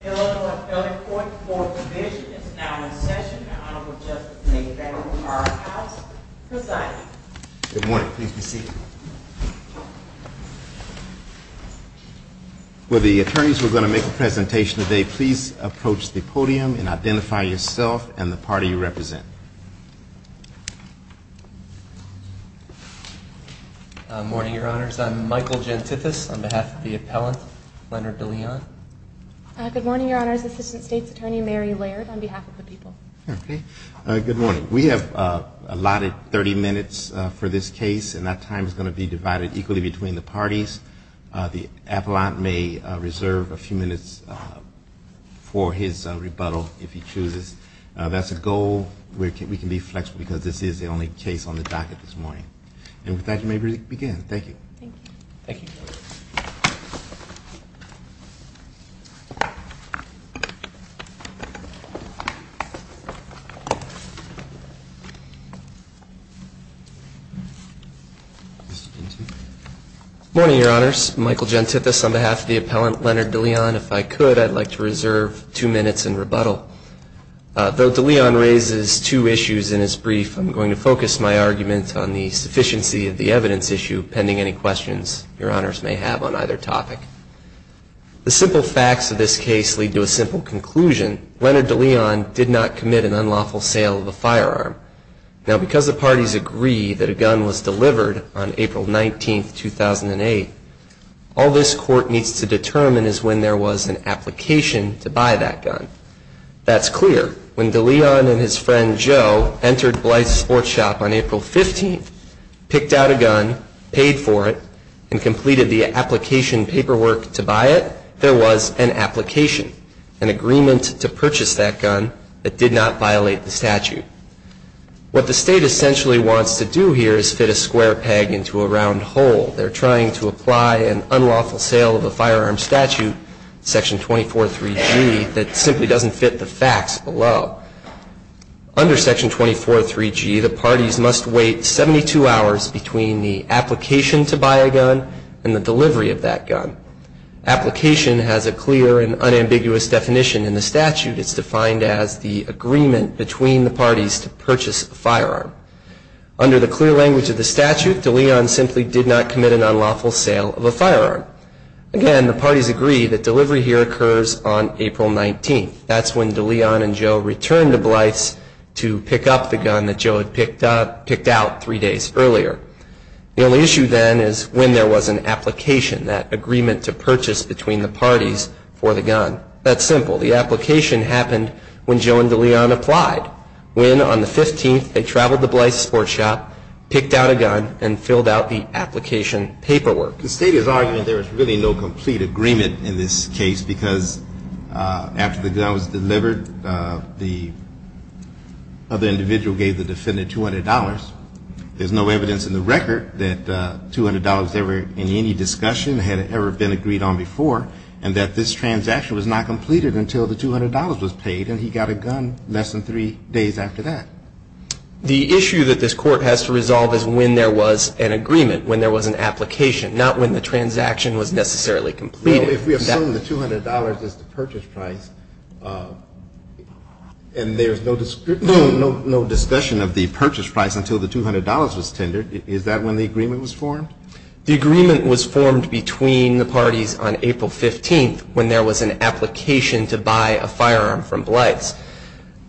Hello, appellate court. Fourth division is now in session. The Honorable Justice of the Federal Courthouse presiding. Good morning. Please be seated. Will the attorneys who are going to make a presentation today please approach the podium and identify yourself and the party you represent. Good morning, Your Honors. I'm Michael Gentithis on behalf of the appellant, Leonard DeLeon. Good morning, Your Honors. Assistant State's Attorney Mary Laird on behalf of the people. Good morning. We have allotted 30 minutes for this case and that time is going to be divided equally between the parties. The appellant may reserve a few minutes for his rebuttal if he chooses. That's a goal where we can be flexible because this is the only case on the docket this morning. And with that, you may begin. Thank you. Thank you. Good morning, Your Honors. Michael Gentithis on behalf of the appellant, Leonard DeLeon. If I could, I'd like to reserve two minutes in rebuttal. Though DeLeon raises two issues in his brief, I'm going to focus my argument on the sufficiency of the evidence issue pending any questions Your Honors may have on either topic. The simple facts of this case lead to a simple conclusion. Leonard DeLeon did not commit an unlawful sale of a firearm. Now, because the parties agree that a gun was delivered on April 19, 2008, all this court needs to determine is when there was an application to buy that gun. That's clear. When DeLeon and his friend, Joe, entered Blythe's Sports Shop on April 15, picked out a gun, paid for it, and completed the application paperwork to buy it, there was an application, an agreement to purchase that gun that did not violate the statute. What the State essentially wants to do here is fit a square peg into a round hole. They're trying to apply an unlawful sale of a firearm statute, Section 243G, that simply doesn't fit the facts below. Under Section 243G, the parties must wait 72 hours between the application to buy a gun and the delivery of that gun. Application has a clear and unambiguous definition. In the statute, it's defined as the agreement between the parties to purchase a firearm. Under the clear language of the statute, DeLeon simply did not commit an unlawful sale of a firearm. Again, the parties agree that delivery here occurs on April 19. That's when DeLeon and Joe returned to Blythe's to pick up the gun that Joe had picked out three days earlier. The only issue then is when there was an application, that agreement to purchase between the parties for the gun. That's simple. The application happened when Joe and DeLeon applied. When, on the 15th, they traveled to Blythe's sports shop, picked out a gun, and filled out the application paperwork. The State is arguing there is really no complete agreement in this case because after the gun was delivered, the other individual gave the defendant $200. There's no evidence in the record that $200 in any discussion had ever been agreed on before and that this transaction was not completed until the $200 was paid and he got a gun less than three days after that. The issue that this Court has to resolve is when there was an agreement, when there was an application, not when the transaction was necessarily completed. If we assume the $200 is the purchase price and there's no discussion of the purchase price until the $200 was tendered, is that when the agreement was formed? The agreement was formed between the parties on April 15th when there was an application to buy a firearm from Blythe's.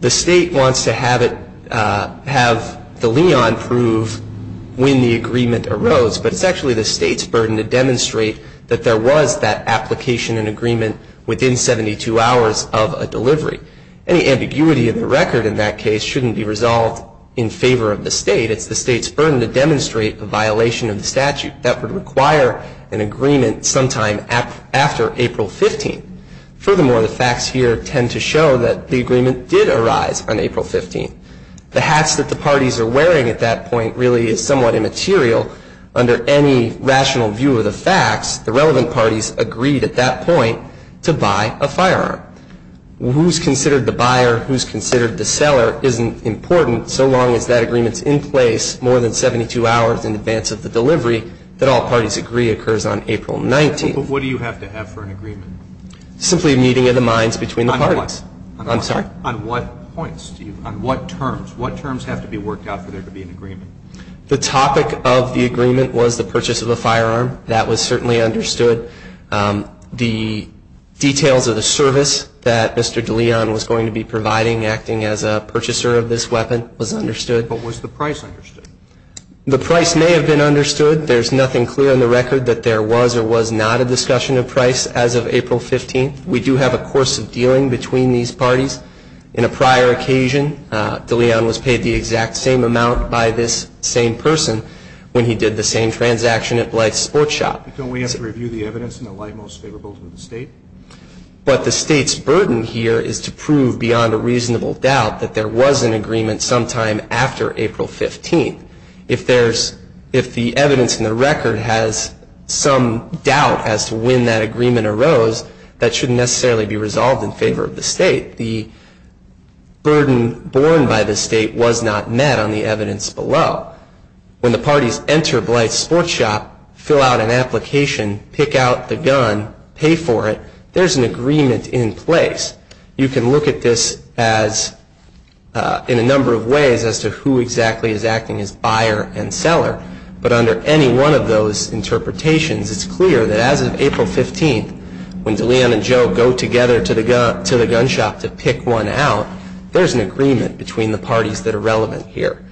The State wants to have it, have DeLeon prove when the agreement arose, but it's actually the State's burden to demonstrate that there was that application and agreement within 72 hours of a delivery. Any ambiguity in the record in that case shouldn't be resolved in favor of the State. It's the State's burden to demonstrate a violation of the statute. That would require an agreement sometime after April 15th. Furthermore, the facts here tend to show that the agreement did arise on April 15th. The hats that the parties are wearing at that point really is somewhat immaterial. Under any rational view of the facts, the relevant parties agreed at that point to buy a firearm. Who's considered the buyer, who's considered the seller isn't important so long as that agreement's in place more than 72 hours in advance of the delivery that all parties agree occurs on April 19th. But what do you have to have for an agreement? Simply a meeting of the minds between the parties. On what? I'm sorry? On what points? On what terms? What terms have to be worked out for there to be an agreement? The topic of the agreement was the purchase of a firearm. That was certainly understood. The details of the service that Mr. DeLeon was going to be providing, acting as a purchaser of this weapon, was understood. But was the price understood? The price may have been understood. There's nothing clear on the record that there was or was not a discussion of price as of April 15th. We do have a course of dealing between these parties. In a prior occasion, DeLeon was paid the exact same amount by this same person when he did the same transaction at Blythe Sports Shop. Don't we have to review the evidence in the light most favorable to the state? But the state's burden here is to prove beyond a reasonable doubt that there was an agreement sometime after April 15th. If the evidence in the record has some doubt as to when that agreement arose, that shouldn't necessarily be resolved in favor of the state. The burden borne by the state was not met on the evidence below. When the parties enter Blythe Sports Shop, fill out an application, pick out the gun, pay for it, there's an agreement in place. You can look at this in a number of ways as to who exactly is acting as buyer and seller. But under any one of those interpretations, it's clear that as of April 15th, when DeLeon and Joe go together to the gun shop to pick one out, there's an agreement between the parties that are relevant here.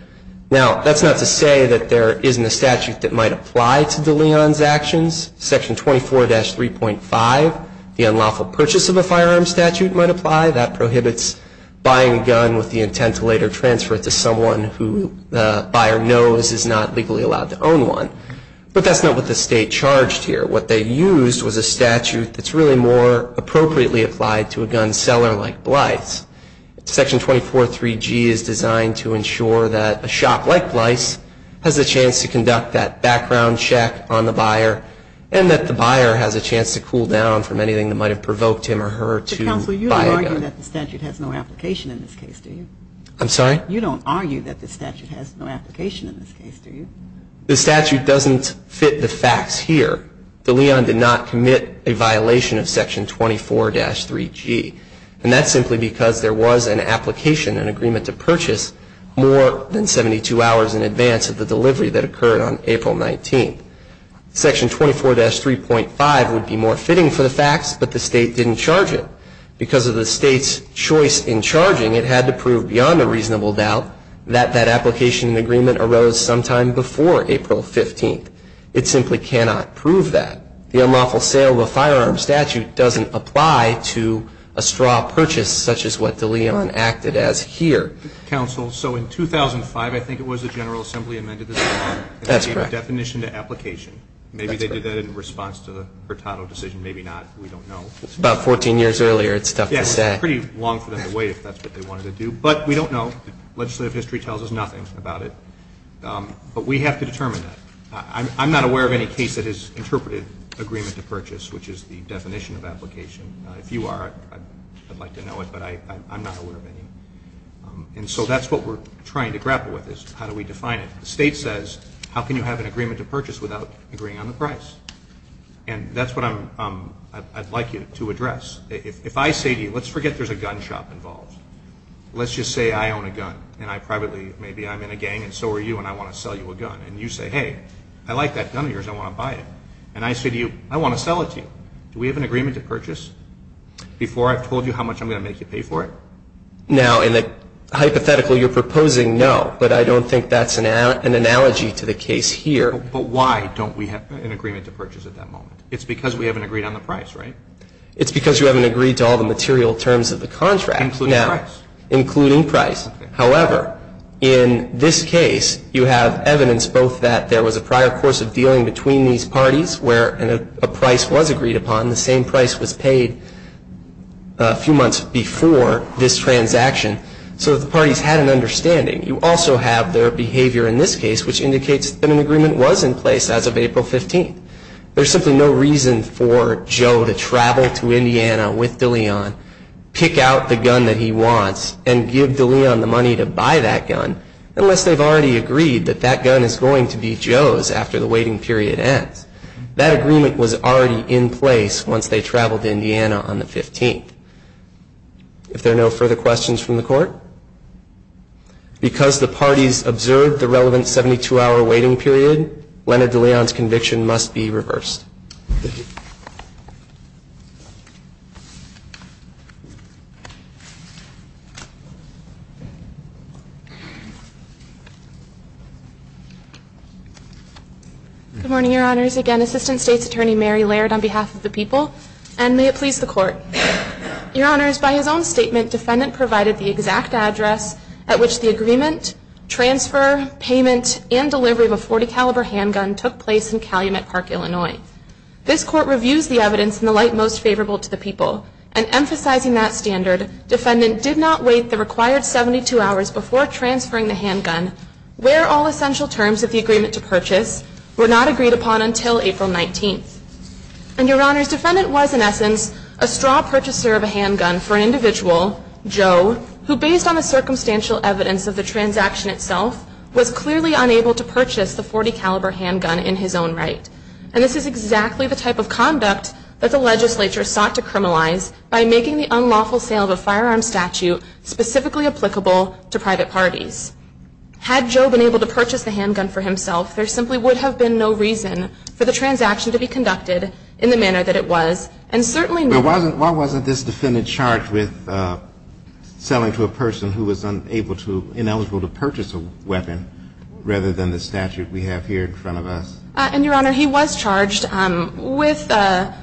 Now, that's not to say that there isn't a statute that might apply to DeLeon's actions. Section 24-3.5, the unlawful purchase of a firearm statute might apply. That prohibits buying a gun with the intent to later transfer it to someone who the buyer knows is not legally allowed to own one. But that's not what the state charged here. What they used was a statute that's really more appropriately applied to a gun seller like Blythe's. Section 24-3G is designed to ensure that a shop like Blythe's has a chance to conduct that background check on the buyer and that the buyer has a chance to cool down from anything that might have provoked him or her to buy a gun. Counsel, you don't argue that the statute has no application in this case, do you? I'm sorry? You don't argue that the statute has no application in this case, do you? The statute doesn't fit the facts here. DeLeon did not commit a violation of Section 24-3G. And that's simply because there was an application, an agreement to purchase, more than 72 hours in advance of the delivery that occurred on April 19th. Section 24-3.5 would be more fitting for the facts, but the state didn't charge it. Because of the state's choice in charging, it had to prove beyond a reasonable doubt that that application and agreement arose sometime before April 15th. It simply cannot prove that. The unlawful sale of a firearm statute doesn't apply to a straw purchase, such as what DeLeon acted as here. Counsel, so in 2005, I think it was the General Assembly amended the statute. That's correct. And gave a definition to application. Maybe they did that in response to the Hurtado decision, maybe not. We don't know. About 14 years earlier, it's tough to say. Yes, it's pretty long for them to wait if that's what they wanted to do. But we don't know. Legislative history tells us nothing about it. But we have to determine that. I'm not aware of any case that has interpreted agreement to purchase, which is the definition of application. If you are, I'd like to know it. But I'm not aware of any. And so that's what we're trying to grapple with is how do we define it. The state says, how can you have an agreement to purchase without agreeing on the price? And that's what I'd like you to address. If I say to you, let's forget there's a gun shop involved. Let's just say I own a gun. And I privately, maybe I'm in a gang, and so are you, and I want to sell you a gun. And you say, hey, I like that gun of yours. I want to buy it. And I say to you, I want to sell it to you. Do we have an agreement to purchase before I've told you how much I'm going to make you pay for it? Now, in the hypothetical you're proposing, no. But I don't think that's an analogy to the case here. But why don't we have an agreement to purchase at that moment? It's because we haven't agreed on the price, right? It's because you haven't agreed to all the material terms of the contract. Including price. Including price. However, in this case you have evidence both that there was a prior course of dealing between these parties where a price was agreed upon, the same price was paid a few months before this transaction, so the parties had an understanding. You also have their behavior in this case, which indicates that an agreement was in place as of April 15th. There's simply no reason for Joe to travel to Indiana with DeLeon, pick out the gun that he wants, and give DeLeon the money to buy that gun, unless they've already agreed that that gun is going to be Joe's after the waiting period ends. That agreement was already in place once they traveled to Indiana on the 15th. If there are no further questions from the Court, because the parties observed the relevant 72-hour waiting period, Leonard DeLeon's conviction must be reversed. Thank you. Good morning, Your Honors. Again, Assistant State's Attorney Mary Laird on behalf of the people, and may it please the Court. Your Honors, by his own statement, defendant provided the exact address at which the agreement, transfer, payment, and delivery of a .40 caliber handgun took place in Calumet Park, Illinois. This Court reviews the evidence in the light most favorable to the people, and emphasizing that standard, defendant did not wait the required 72 hours before transferring the handgun, where all essential terms of the agreement to purchase were not agreed upon until April 19th. And, Your Honors, defendant was, in essence, a straw purchaser of a handgun for an individual, Joe, who, based on the circumstantial evidence of the transaction itself, was clearly unable to purchase the .40 caliber handgun in his own right. And this is exactly the type of conduct that the legislature sought to criminalize by making the unlawful sale of a firearm statute specifically applicable to private parties. Had Joe been able to purchase the handgun for himself, there simply would have been no reason for the transaction to be conducted in the manner that it was, And certainly not. But why wasn't this defendant charged with selling to a person who was unable to, ineligible to purchase a weapon, rather than the statute we have here in front of us? And, Your Honor, he was charged with a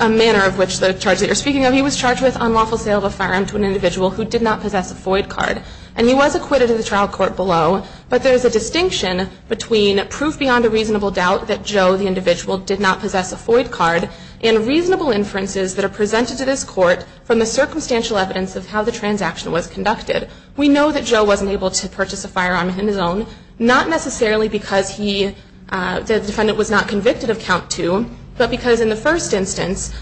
manner of which the charge that you are speaking of, he was charged with unlawful sale of a firearm to an individual who did not possess a FOID card, and he was acquitted in the trial court below. But there is a distinction between proof beyond a reasonable doubt that Joe, the individual, did not possess a FOID card and reasonable inferences that are presented to this court from the circumstantial evidence of how the transaction was conducted. We know that Joe wasn't able to purchase a firearm on his own, not necessarily because he, the defendant was not convicted of count two, but because in the first instance,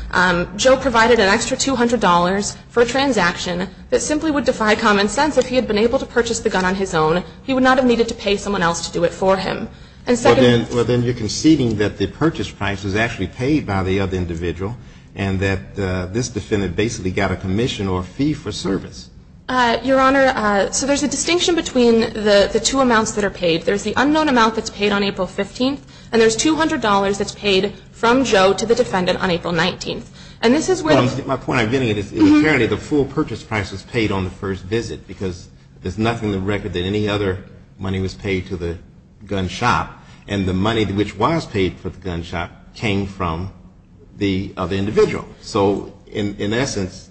Joe provided an extra $200 for a transaction that simply would defy common sense if he had been able to purchase the gun on his own. He would not have needed to pay someone else to do it for him. Well, then you're conceding that the purchase price was actually paid by the other individual, and that this defendant basically got a commission or a fee for service. Your Honor, so there's a distinction between the two amounts that are paid. There's the unknown amount that's paid on April 15th, and there's $200 that's paid from Joe to the defendant on April 19th. And this is where the ---- Well, my point I'm getting at is apparently the full purchase price was paid on the first visit, because there's nothing in the record that any other money was paid directly to the gun shop, and the money which was paid for the gun shop came from the other individual. So in essence,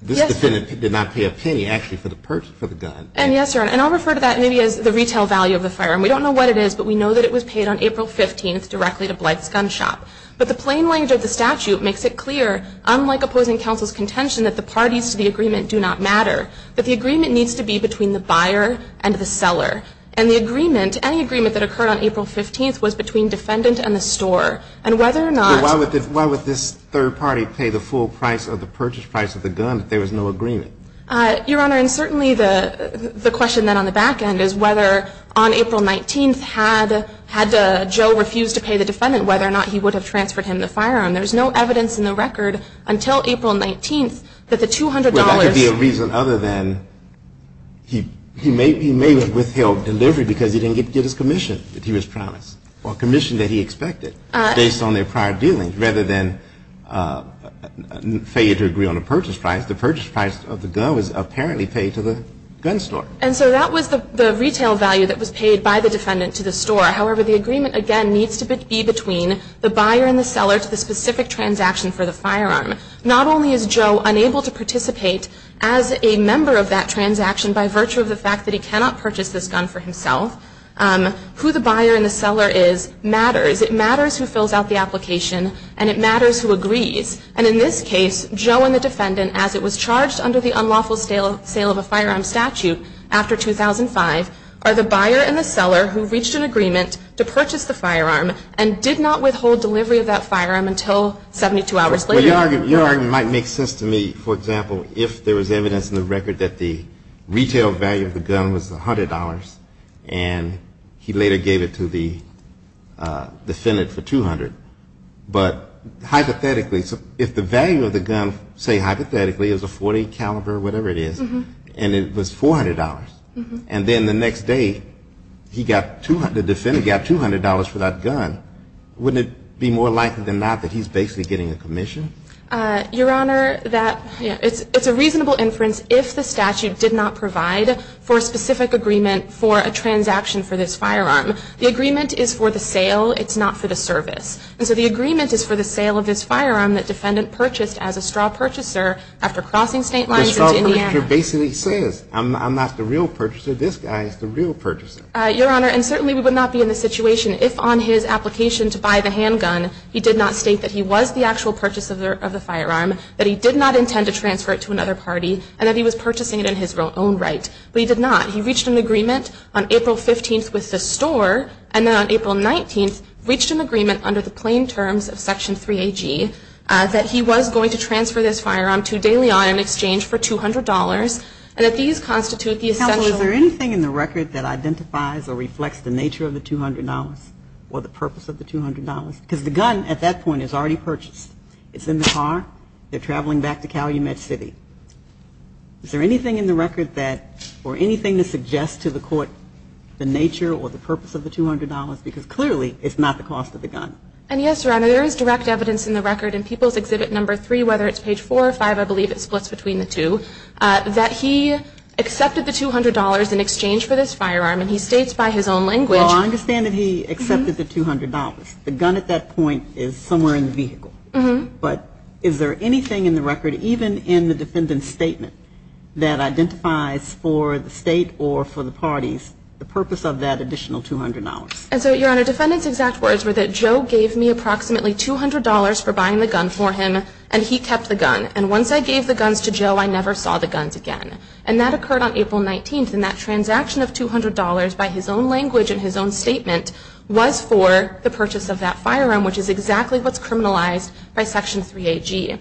this defendant did not pay a penny actually for the purchase for the gun. And yes, Your Honor, and I'll refer to that maybe as the retail value of the firearm. We don't know what it is, but we know that it was paid on April 15th directly to Blythe's gun shop. But the plain language of the statute makes it clear, unlike opposing counsel's contention, that the parties to the agreement do not matter, that the agreement needs to be between the buyer and the seller. And the agreement, any agreement that occurred on April 15th was between defendant and the store. And whether or not ---- But why would this third party pay the full price of the purchase price of the gun if there was no agreement? Your Honor, and certainly the question then on the back end is whether on April 19th had Joe refused to pay the defendant whether or not he would have transferred him the firearm. There's no evidence in the record until April 19th that the $200 ---- He may have withheld delivery because he didn't get his commission that he was promised or commission that he expected based on their prior dealings rather than failure to agree on a purchase price. The purchase price of the gun was apparently paid to the gun store. And so that was the retail value that was paid by the defendant to the store. However, the agreement, again, needs to be between the buyer and the seller to the specific transaction for the firearm. Not only is Joe unable to participate as a member of that transaction by virtue of the fact that he cannot purchase this gun for himself, who the buyer and the seller is matters. It matters who fills out the application and it matters who agrees. And in this case, Joe and the defendant, as it was charged under the unlawful sale of a firearm statute after 2005, are the buyer and the seller who reached an agreement to purchase the firearm and did not withhold delivery of that firearm until 72 hours later. Well, your argument might make sense to me. For example, if there was evidence in the record that the retail value of the gun was $100 and he later gave it to the defendant for $200. But hypothetically, if the value of the gun, say hypothetically, is a .40 caliber or whatever it is, and it was $400, and then the next day the defendant got $200 for that gun, wouldn't it be more likely than not that he's basically getting a commission? Your Honor, it's a reasonable inference if the statute did not provide for a specific agreement for a transaction for this firearm. The agreement is for the sale. It's not for the service. And so the agreement is for the sale of this firearm that defendant purchased as a straw purchaser after crossing state lines into Indiana. The straw purchaser basically says, I'm not the real purchaser. This guy is the real purchaser. Your Honor, and certainly we would not be in this situation if on his application to buy the handgun he did not state that he was the actual purchaser of the firearm, that he did not intend to transfer it to another party, and that he was purchasing it in his own right. But he did not. He reached an agreement on April 15th with the store, and then on April 19th reached an agreement under the plain terms of Section 3AG that he was going to transfer this firearm to De Leon in exchange for $200, and that these constitute the essential. Counsel, is there anything in the record that identifies or reflects the nature of the $200 or the purpose of the $200? Because the gun at that point is already purchased. It's in the car. They're traveling back to Calumet City. Is there anything in the record that or anything that suggests to the court the nature or the purpose of the $200? Because clearly it's not the cost of the gun. And yes, Your Honor, there is direct evidence in the record in People's Exhibit No. 3, whether it's page 4 or 5, I believe it splits between the two, that he accepted the $200 in exchange for this firearm. And he states by his own language. Well, I understand that he accepted the $200. The gun at that point is somewhere in the vehicle. But is there anything in the record, even in the defendant's statement, that identifies for the state or for the parties the purpose of that additional $200? And so, Your Honor, defendant's exact words were that Joe gave me approximately $200 for buying the gun for him, and he kept the gun. And once I gave the guns to Joe, I never saw the guns again. And that occurred on April 19th, and that transaction of $200 by his own language and his own statement was for the purchase of that firearm, which is exactly what's criminalized by Section 3AG.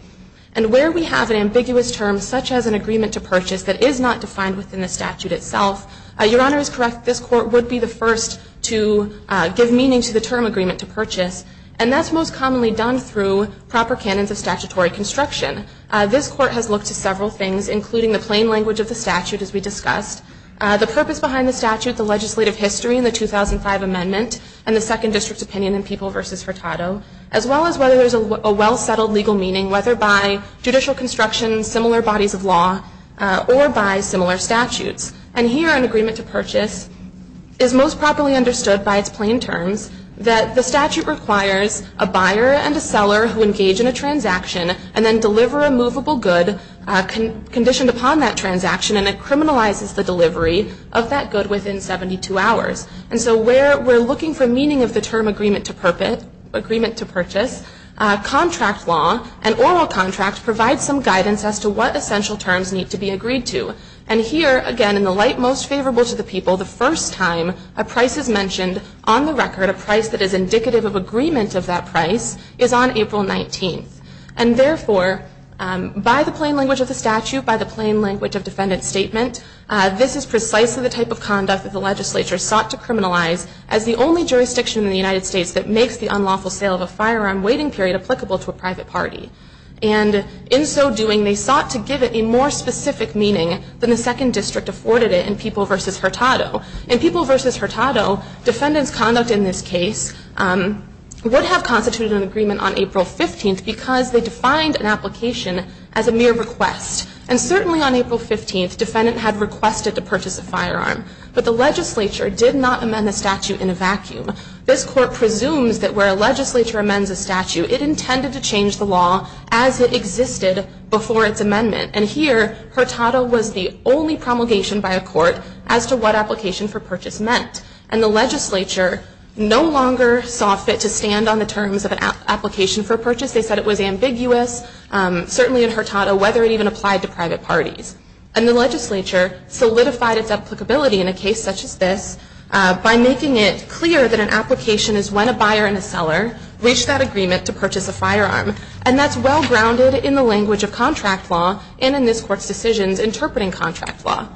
And where we have an ambiguous term such as an agreement to purchase that is not defined within the statute itself, Your Honor is correct. This court would be the first to give meaning to the term agreement to purchase. And that's most commonly done through proper canons of statutory construction. This court has looked to several things, including the plain language of the statute, as we discussed, the purpose behind the statute, the legislative history in the 2005 amendment, and the Second District's opinion in People v. Hurtado, as well as whether there's a well-settled legal meaning, whether by judicial construction, similar bodies of law, or by similar statutes. And here, an agreement to purchase is most properly understood by its plain terms that the statute requires a buyer and a seller who engage in a transaction and then deliver a movable good conditioned upon that transaction and it criminalizes the delivery of that good within 72 hours. And so where we're looking for meaning of the term agreement to purchase, contract law and oral contract provide some guidance as to what essential terms need to be agreed to. And here, again, in the light most favorable to the people, the first time a price is mentioned on the record, a price that is indicative of agreement of that And therefore, by the plain language of the statute, by the plain language of defendant's statement, this is precisely the type of conduct that the legislature sought to criminalize as the only jurisdiction in the United States that makes the unlawful sale of a firearm waiting period applicable to a private party. And in so doing, they sought to give it a more specific meaning than the Second District afforded it in People v. Hurtado. In People v. Hurtado, defendant's conduct in this case would have constituted an agreement on April 15th because they defined an application as a mere request. And certainly on April 15th, defendant had requested to purchase a firearm. But the legislature did not amend the statute in a vacuum. This court presumes that where a legislature amends a statute, it intended to change the law as it existed before its amendment. And here, Hurtado was the only promulgation by a court as to what application for purchase meant. And the legislature no longer saw fit to stand on the terms of an application for purchase. They said it was ambiguous, certainly in Hurtado, whether it even applied to private parties. And the legislature solidified its applicability in a case such as this by making it clear that an application is when a buyer and a seller reach that agreement to purchase a firearm. And that's well grounded in the language of contract law and in this court's decisions interpreting contract law.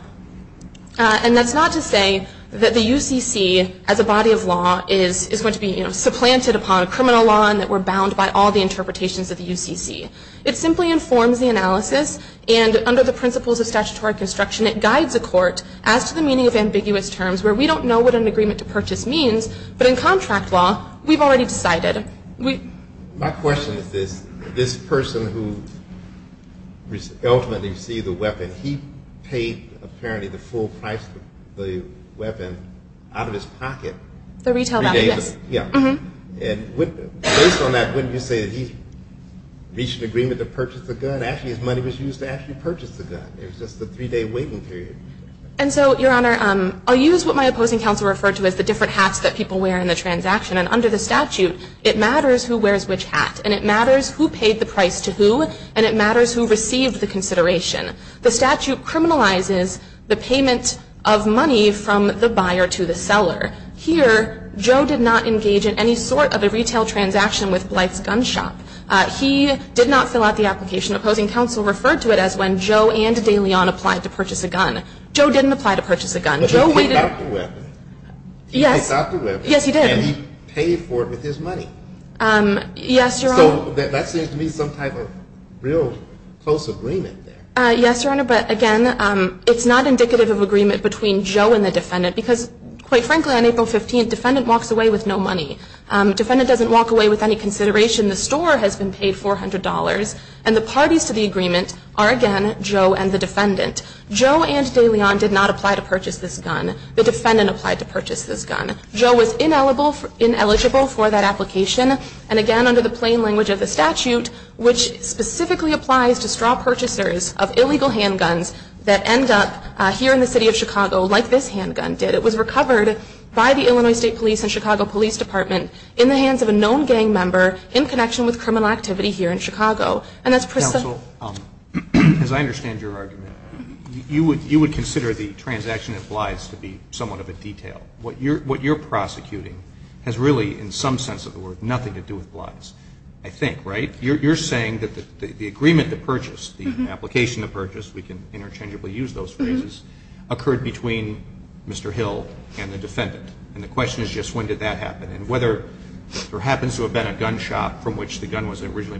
And that's not to say that the UCC as a body of law is going to be supplanted upon a criminal law and that we're bound by all the interpretations of the UCC. It simply informs the analysis. And under the principles of statutory construction, it guides a court as to the meaning of ambiguous terms where we don't know what an agreement to purchase means. But in contract law, we've already decided. My question is this. This person who ultimately received the weapon, he paid apparently the full price of the weapon out of his pocket. The retail value, yes. And based on that, wouldn't you say that he reached an agreement to purchase the gun? Actually, his money was used to actually purchase the gun. It was just a three-day waiting period. And so, Your Honor, I'll use what my opposing counsel referred to as the different hats that people wear in the transaction. And under the statute, it matters who wears which hat. And it matters who paid the price to who. And it matters who received the consideration. The statute criminalizes the payment of money from the buyer to the seller. Here, Joe did not engage in any sort of a retail transaction with Blythe's gun shop. He did not fill out the application. Opposing counsel referred to it as when Joe and de Leon applied to purchase a gun. Joe didn't apply to purchase a gun. Joe waited. He picked up the weapon. Yes. Yes, he did. And he paid for it with his money. Yes, Your Honor. So that seems to me some type of real close agreement there. Yes, Your Honor. But, again, it's not indicative of agreement between Joe and the defendant because, quite frankly, on April 15th, defendant walks away with no money. Defendant doesn't walk away with any consideration. The store has been paid $400. And the parties to the agreement are, again, Joe and the defendant. Joe and de Leon did not apply to purchase this gun. The defendant applied to purchase this gun. Joe was ineligible for that application. And, again, under the plain language of the statute, which specifically applies to straw purchasers of illegal handguns that end up here in the city of Chicago like this handgun did, it was recovered by the Illinois State Police and Chicago Police Department in the hands of a known gang member in connection with criminal activity here in Chicago. And that's precisely the case. Counsel, as I understand your argument, you would consider the transaction at Blythe's to be somewhat of a detail. What you're prosecuting has really, in some sense of the word, nothing to do with Blythe's, I think. Right? You're saying that the agreement to purchase, the application to purchase, we can interchangeably use those phrases, occurred between Mr. Hill and the defendant. And the question is just when did that happen. And whether there happens to have been a gun shop from which the gun was originally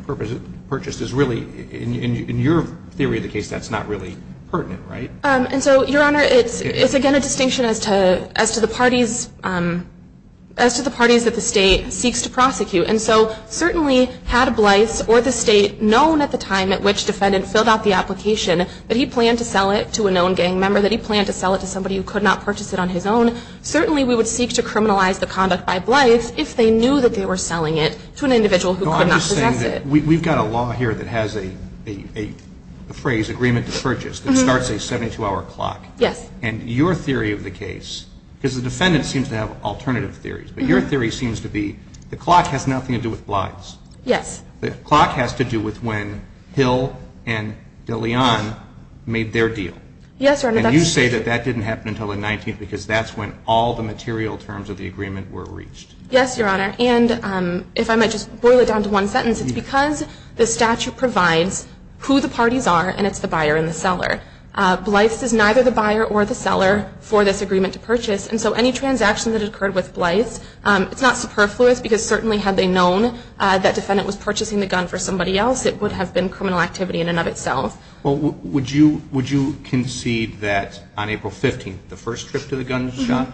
purchased is really, in your theory of the case, that's not really pertinent. Right? And so, Your Honor, it's again a distinction as to the parties that the state seeks to prosecute. And so certainly had Blythe's or the state known at the time at which the defendant filled out the application that he planned to sell it to a known gang member, that he planned to sell it to somebody who could not purchase it on his own, certainly we would seek to criminalize the conduct by Blythe's if they knew that they were selling it to an individual who could not possess it. No, I'm just saying that we've got a law here that has a phrase, agreement to purchase, that starts a 72-hour clock. Yes. And your theory of the case, because the defendant seems to have alternative theories, but your theory seems to be the clock has nothing to do with Blythe's. Yes. The clock has to do with when Hill and DeLeon made their deal. Yes, Your Honor. And you say that that didn't happen until the 19th, because that's when all the material terms of the agreement were reached. Yes, Your Honor. And if I might just boil it down to one sentence, it's because the statute provides who the parties are, and it's the buyer and the seller. Blythe's is neither the buyer or the seller for this agreement to purchase, and so any transaction that occurred with Blythe's, it's not superfluous because certainly had they known that defendant was purchasing the gun for somebody else, it would have been criminal activity in and of itself. Well, would you concede that on April 15th, the first trip to the gun shop,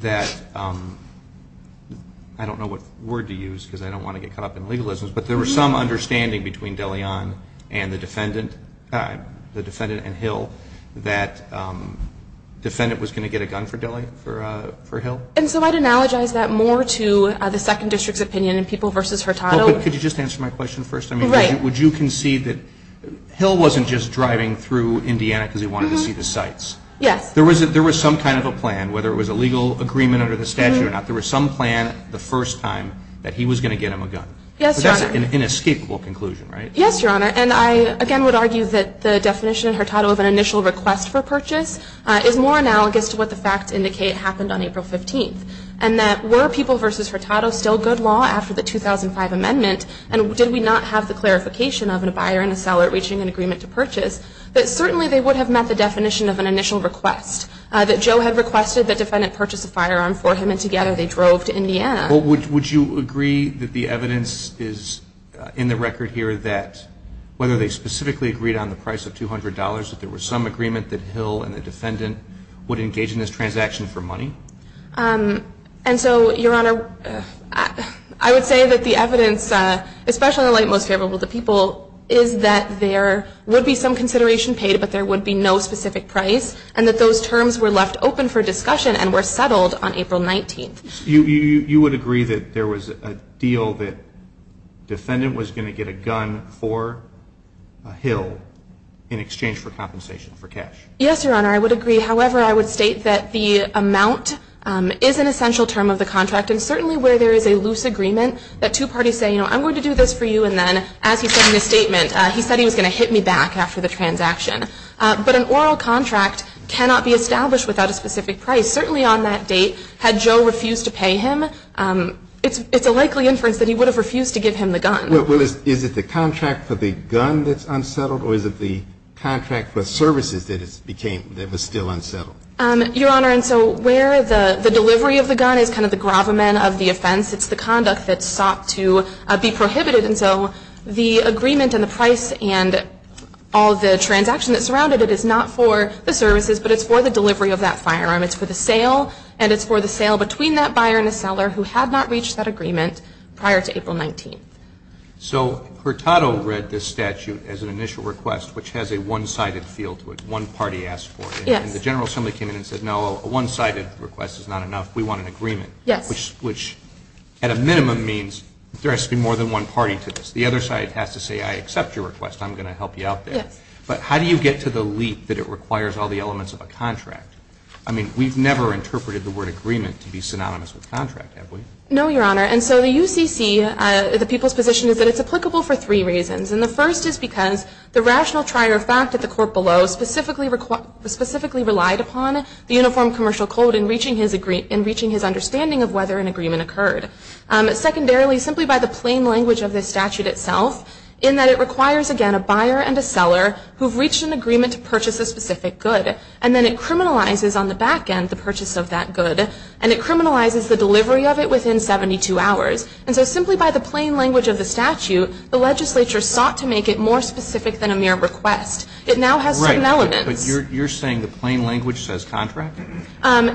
that, I don't know what word to use, because I don't want to get caught up in legalisms, but there was some understanding between DeLeon and the defendant and Hill that defendant was going to get a gun for Hill? And so I'd analogize that more to the Second District's opinion in People v. Hurtado. Could you just answer my question first? Right. Would you concede that Hill wasn't just driving through Indiana because he wanted to see the sights? Yes. There was some kind of a plan, whether it was a legal agreement under the statute or not, there was some plan the first time that he was going to get him a gun. Yes, Your Honor. But that's an inescapable conclusion, right? Yes, Your Honor. And I, again, would argue that the definition in Hurtado of an initial request for purchase is more analogous to what the facts indicate happened on April 15th, and that were People v. Hurtado still good law after the 2005 amendment, and did we not have the clarification of a buyer and a seller reaching an agreement to purchase, that certainly they would have met the definition of an initial request, that Joe had requested the defendant purchase a firearm for him and together they drove to Indiana. Would you agree that the evidence is in the record here that whether they specifically agreed on the price of $200, that there was some agreement that Hill and the defendant would engage in this transaction for money? And so, Your Honor, I would say that the evidence, especially in the light most favorable to people, is that there would be some consideration paid, but there would be no specific price, and that those terms were left open for discussion and were settled on April 19th. You would agree that there was a deal that the defendant was going to get a gun for Hill in exchange for compensation for cash? Yes, Your Honor, I would agree. However, I would state that the amount is an essential term of the contract, and certainly where there is a loose agreement that two parties say, I'm going to do this for you, and then as he said in his statement, he said he was going to hit me back after the transaction. But an oral contract cannot be established without a specific price. Certainly on that date, had Joe refused to pay him, it's a likely inference that he would have refused to give him the gun. Well, is it the contract for the gun that's unsettled, or is it the contract for services that it's became, that was still unsettled? Your Honor, and so where the delivery of the gun is kind of the gravamen of the offense, it's the conduct that's sought to be prohibited. And so the agreement and the price and all the transaction that surrounded it is not for the services, but it's for the delivery of that firearm. It's for the sale, and it's for the sale between that buyer and the seller who had not reached that agreement prior to April 19th. So Hurtado read this statute as an initial request, which has a one-sided feel to it. One party asked for it. Yes. And the General Assembly came in and said, no, a one-sided request is not enough. We want an agreement. Yes. Which at a minimum means there has to be more than one party to this. The other side has to say, I accept your request, I'm going to help you out there. Yes. But how do you get to the leap that it requires all the elements of a contract? I mean, we've never interpreted the word agreement to be synonymous with contract, have we? No, Your Honor. And so the UCC, the people's position is that it's applicable for three reasons. And the first is because the rational trier of fact at the court below specifically relied upon the uniform commercial code in reaching his understanding of whether an agreement occurred. Secondarily, simply by the plain language of this statute itself, in that it requires, again, a buyer and a seller who have reached an agreement to purchase a specific good, and then it criminalizes on the back end the purchase of that good, and it criminalizes the delivery of it within 72 hours. And so simply by the plain language of the statute, the legislature sought to make it more specific than a mere request. It now has certain elements. Right. But you're saying the plain language says contract?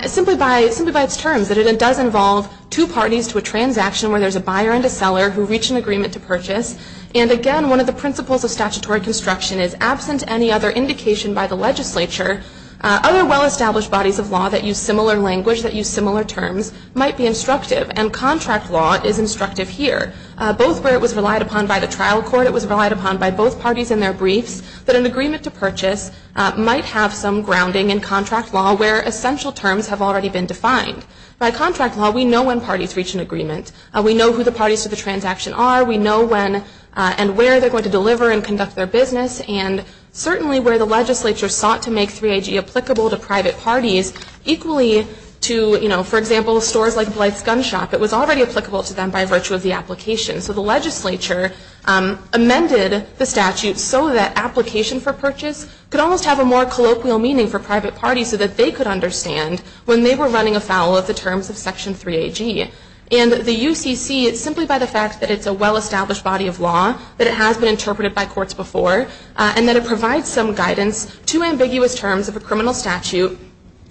Simply by its terms, that it does involve two parties to a transaction where there's a buyer and a seller who reach an agreement to purchase. And again, one of the principles of statutory construction is, absent any other indication by the legislature, other well-established bodies of law that use similar language, that use similar terms, might be instructive. And contract law is instructive here. Both where it was relied upon by the trial court, it was relied upon by both parties in their briefs, that an agreement to purchase might have some grounding in contract law where essential terms have already been defined. By contract law, we know when parties reach an agreement. We know who the parties to the transaction are. We know when and where they're going to deliver and conduct their business. And certainly where the legislature sought to make 3AG applicable to private parties, equally to, you know, for example, stores like Blythe's Gun Shop. It was already applicable to them by virtue of the application. So the legislature amended the statute so that application for purchase could almost have a more colloquial meaning for private parties so that they could understand when they were running afoul of the terms of Section 3AG. And the UCC is simply by the fact that it's a well-established body of law, that it has been interpreted by courts before, and that it provides some guidance to ambiguous terms of a criminal statute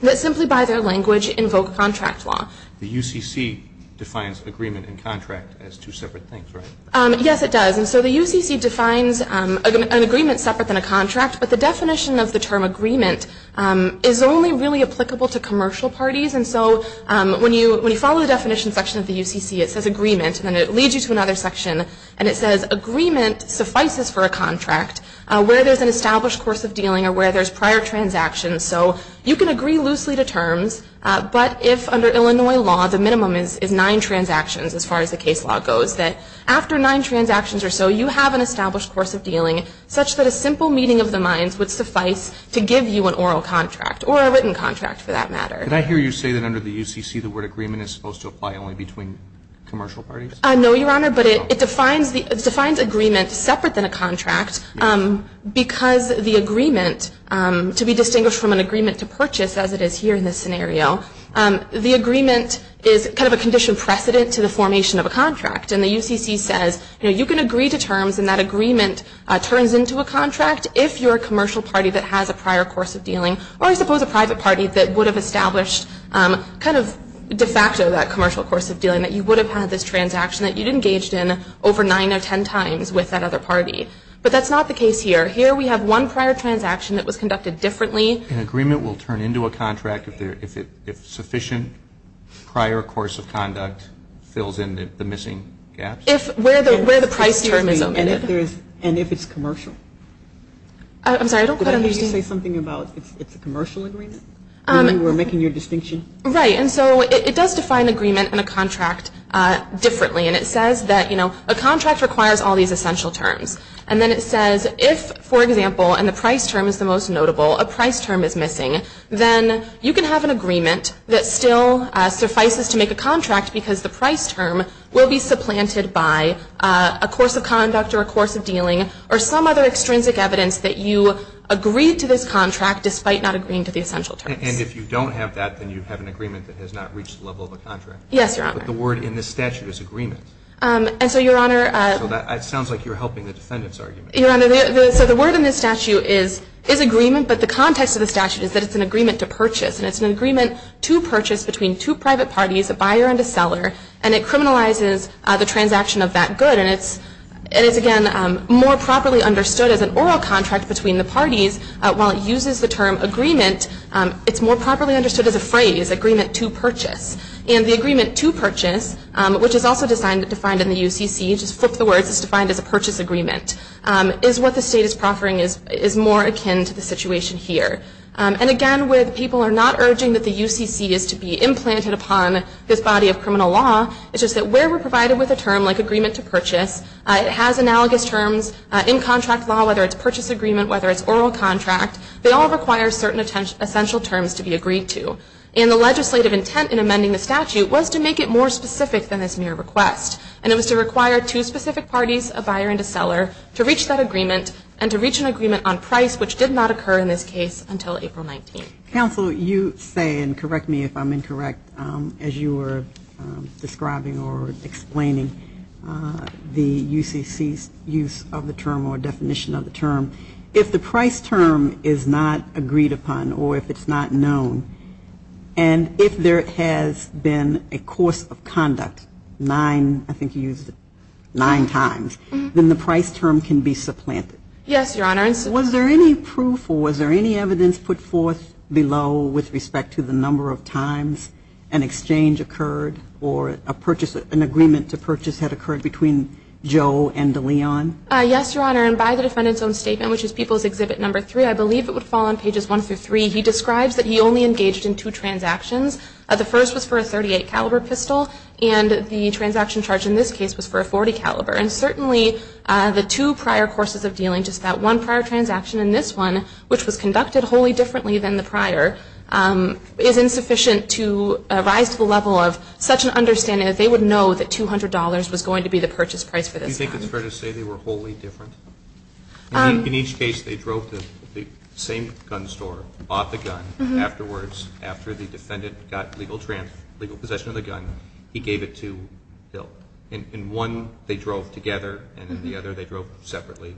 that simply by their language invoke contract law. The UCC defines agreement and contract as two separate things, right? Yes, it does. And so the UCC defines an agreement separate than a contract, but the definition of the term agreement is only really applicable to commercial parties. And so when you follow the definition section of the UCC, it says agreement, and then it leads you to another section, and it says agreement suffices for a contract where there's an established course of dealing or where there's prior transactions. So you can agree loosely to terms, but if under Illinois law the minimum is nine transactions as far as the case law goes, that after nine transactions or so you have an established course of dealing such that a simple meeting of the minds would suffice to give you an oral contract or a written contract for that matter. Could I hear you say that under the UCC the word agreement is supposed to apply only between commercial parties? No, Your Honor, but it defines agreement separate than a contract, because the agreement, to be distinguished from an agreement to purchase as it is here in this scenario, the agreement is kind of a condition precedent to the formation of a contract. And the UCC says you can agree to terms and that agreement turns into a contract if you're a commercial party that has a prior course of dealing, or I suppose a private party that would have established kind of de facto that commercial course of dealing, that you would have had this transaction that you'd engaged in over nine or ten times with that other party. But that's not the case here. Here we have one prior transaction that was conducted differently. An agreement will turn into a contract if sufficient prior course of conduct fills in the missing gaps? Where the price term is omitted. And if it's commercial? I'm sorry, I don't quite understand. Did you say something about it's a commercial agreement? When you were making your distinction? Right, and so it does define agreement and a contract differently. And it says that, you know, a contract requires all these essential terms. And then it says if, for example, and the price term is the most notable, a price term is missing, then you can have an agreement that still suffices to make a contract because the price term will be supplanted by a course of conduct or a course of dealing or some other extrinsic evidence that you agreed to this contract despite not agreeing to the essential terms. And if you don't have that, then you have an agreement that has not reached the level of a contract? Yes, Your Honor. But the word in this statute is agreement. And so, Your Honor. So that sounds like you're helping the defendant's argument. Your Honor, so the word in this statute is agreement, but the context of the statute is that it's an agreement to purchase. And it's an agreement to purchase between two private parties, a buyer and a seller. And it criminalizes the transaction of that good. And it's, again, more properly understood as an oral contract between the parties. While it uses the term agreement, it's more properly understood as a phrase, agreement to purchase. And the agreement to purchase, which is also defined in the UCC, just flip the words, it's defined as a purchase agreement, is what the state is proffering is more akin to the situation here. And, again, where the people are not urging that the UCC is to be implanted upon this body of criminal law, it's just that where we're provided with a term like agreement to purchase, it has analogous terms in contract law, whether it's purchase agreement, whether it's oral contract. They all require certain essential terms to be agreed to. And the legislative intent in amending the statute was to make it more specific than this mere request. And it was to require two specific parties, a buyer and a seller, to reach that agreement and to reach an agreement on price, which did not occur in this case until April 19th. Counsel, you say, and correct me if I'm incorrect, as you were describing or explaining the UCC's use of the term or definition of the term, if the price term is not agreed upon or if it's not known, and if there has been a course of conduct nine, I think you used it, nine times, then the price term can be supplanted. Yes, Your Honor. Was there any proof or was there any evidence put forth below with respect to the number of times an exchange occurred or an agreement to purchase had occurred between Joe and DeLeon? Yes, Your Honor. And by the defendant's own statement, which is People's Exhibit Number 3, I believe it would fall on pages 1 through 3. He describes that he only engaged in two transactions. The first was for a .38 caliber pistol, and the transaction charge in this case was for a .40 caliber. And certainly the two prior courses of dealing, just that one prior transaction and this one, which was conducted wholly differently than the prior, is insufficient to rise to the level of such an understanding that they would know that $200 was going to be the purchase price for this gun. Do you think it's fair to say they were wholly different? In each case, they drove to the same gun store, bought the gun. Afterwards, after the defendant got legal possession of the gun, he gave it to Bill. In one, they drove together, and in the other, they drove separately.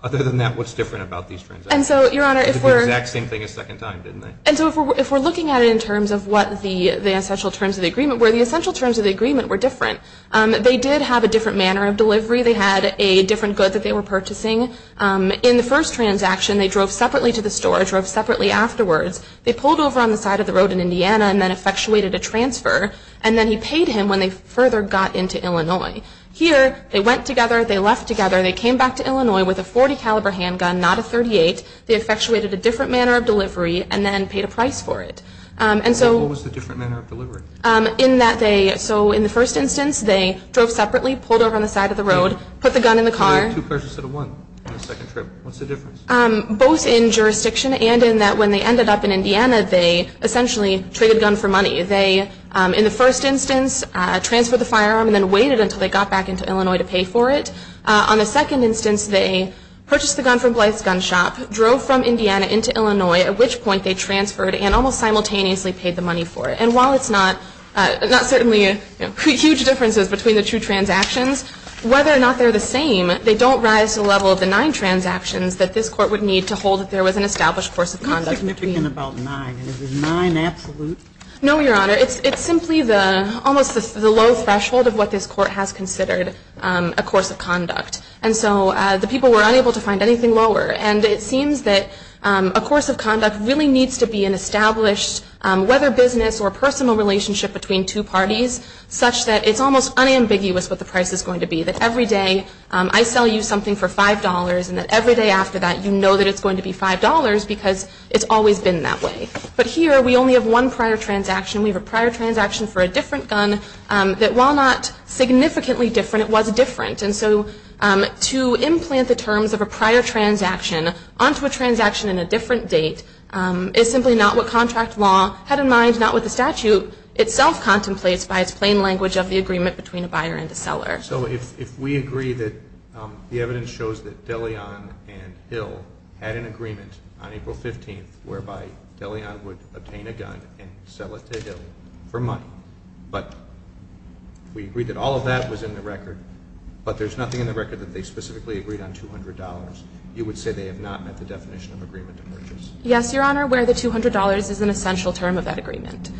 Other than that, what's different about these transactions? And so, Your Honor, if we're – They did the exact same thing a second time, didn't they? And so if we're looking at it in terms of what the essential terms of the agreement were, the essential terms of the agreement were different. They did have a different manner of delivery. They had a different good that they were purchasing. In the first transaction, they drove separately to the store, drove separately afterwards. They pulled over on the side of the road in Indiana and then effectuated a transfer, and then he paid him when they further got into Illinois. Here, they went together, they left together, they came back to Illinois with a .40-caliber handgun, not a .38. They effectuated a different manner of delivery and then paid a price for it. And so – What was the different manner of delivery? In that they – so in the first instance, they drove separately, pulled over on the side of the road, put the gun in the car. They made two purchases out of one on the second trip. What's the difference? Both in jurisdiction and in that when they ended up in Indiana, they essentially traded gun for money. They, in the first instance, transferred the firearm and then waited until they got back into Illinois to pay for it. On the second instance, they purchased the gun from Blythe's Gun Shop, drove from Indiana into Illinois, at which point they transferred and almost simultaneously paid the money for it. And while it's not – not certainly huge differences between the two transactions, whether or not they're the same, they don't rise to the level of the nine transactions that this Court would need to hold that there was an established course of conduct between – How significant about nine? Is it nine absolute? No, Your Honor. It's simply the – almost the low threshold of what this Court has considered a course of conduct. And so the people were unable to find anything lower. And it seems that a course of conduct really needs to be an established, whether business or personal relationship between two parties, such that it's almost unambiguous what the price is going to be, that every day I sell you something for $5 and that every day after that you know that it's going to be $5 because it's always been that way. But here we only have one prior transaction. We have a prior transaction for a different gun that while not significantly different, it was different. And so to implant the terms of a prior transaction onto a transaction in a different date is simply not what contract law had in mind, not what the statute itself contemplates by its plain language of the agreement between a buyer and a seller. So if we agree that the evidence shows that De Leon and Hill had an agreement on April 15th whereby De Leon would obtain a gun and sell it to Hill for money, but we agree that all of that was in the record, but there's nothing in the record that they specifically agreed on $200, you would say they have not met the definition of agreement to purchase? Yes, Your Honor, where the $200 is an essential term of that agreement.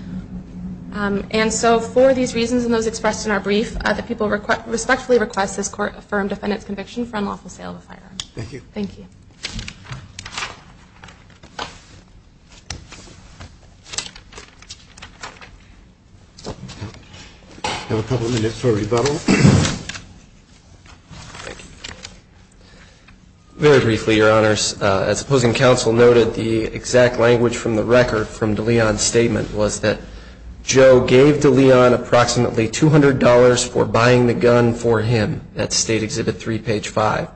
And so for these reasons and those expressed in our brief, the people respectfully request this Court affirm defendant's conviction for unlawful sale of a firearm. Thank you. Thank you. I have a couple of minutes for rebuttal. Thank you. Very briefly, Your Honors, as opposing counsel noted, the exact language from the record from De Leon's statement was that Joe gave De Leon approximately $200 for buying the gun for him at State Exhibit 3, page 5.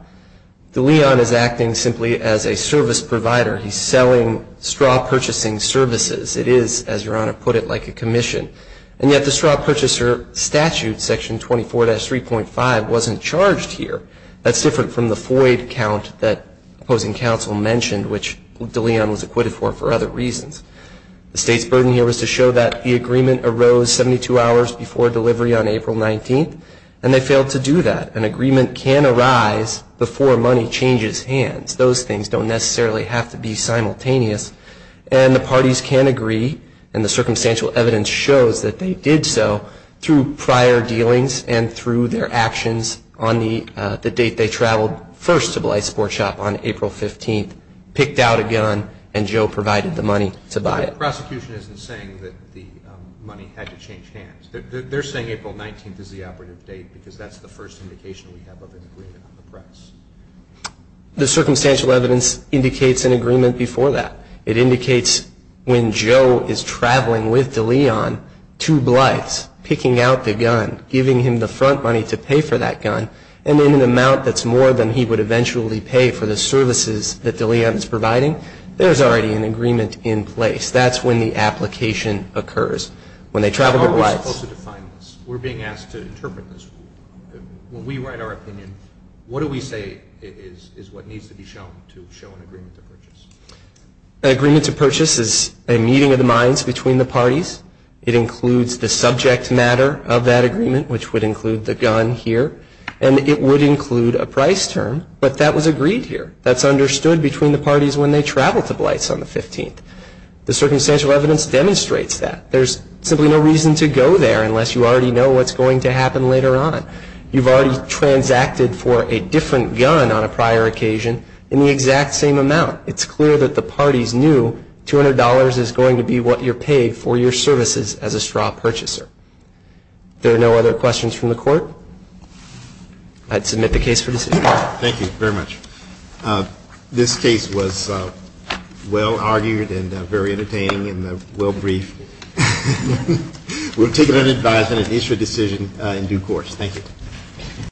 De Leon is acting simply as a service provider. He's selling straw purchasing services. It is, as Your Honor put it, like a commission. And yet the straw purchaser statute, Section 24-3.5, wasn't charged here. That's different from the FOID count that opposing counsel mentioned, which De Leon was acquitted for for other reasons. The State's burden here was to show that the agreement arose 72 hours before delivery on April 19th, and they failed to do that. An agreement can arise before money changes hands. Those things don't necessarily have to be simultaneous. And the parties can agree, and the circumstantial evidence shows that they did so through prior dealings and through their actions on the date they traveled first to the light sports shop on April 15th, picked out a gun, and Joe provided the money to buy it. The prosecution isn't saying that the money had to change hands. They're saying April 19th is the operative date, because that's the first indication we have of an agreement on the price. The circumstantial evidence indicates an agreement before that. It indicates when Joe is traveling with De Leon to Blythe's, picking out the gun, giving him the front money to pay for that gun, and in an amount that's more than he would eventually pay for the services that De Leon is providing, there's already an agreement in place. That's when the application occurs, when they travel to Blythe's. How are we supposed to define this? We're being asked to interpret this. When we write our opinion, what do we say is what needs to be shown to show an agreement to purchase? An agreement to purchase is a meeting of the minds between the parties. It includes the subject matter of that agreement, which would include the gun here, and it would include a price term, but that was agreed here. That's understood between the parties when they travel to Blythe's on the 15th. The circumstantial evidence demonstrates that. There's simply no reason to go there unless you already know what's going to happen later on. You've already transacted for a different gun on a prior occasion in the exact same amount. It's clear that the parties knew $200 is going to be what you're paid for your services as a straw purchaser. If there are no other questions from the Court, I'd submit the case for decision. Thank you very much. This case was well-argued and very entertaining and well-briefed. We'll take it unadvised and issue a decision in due course. Thank you.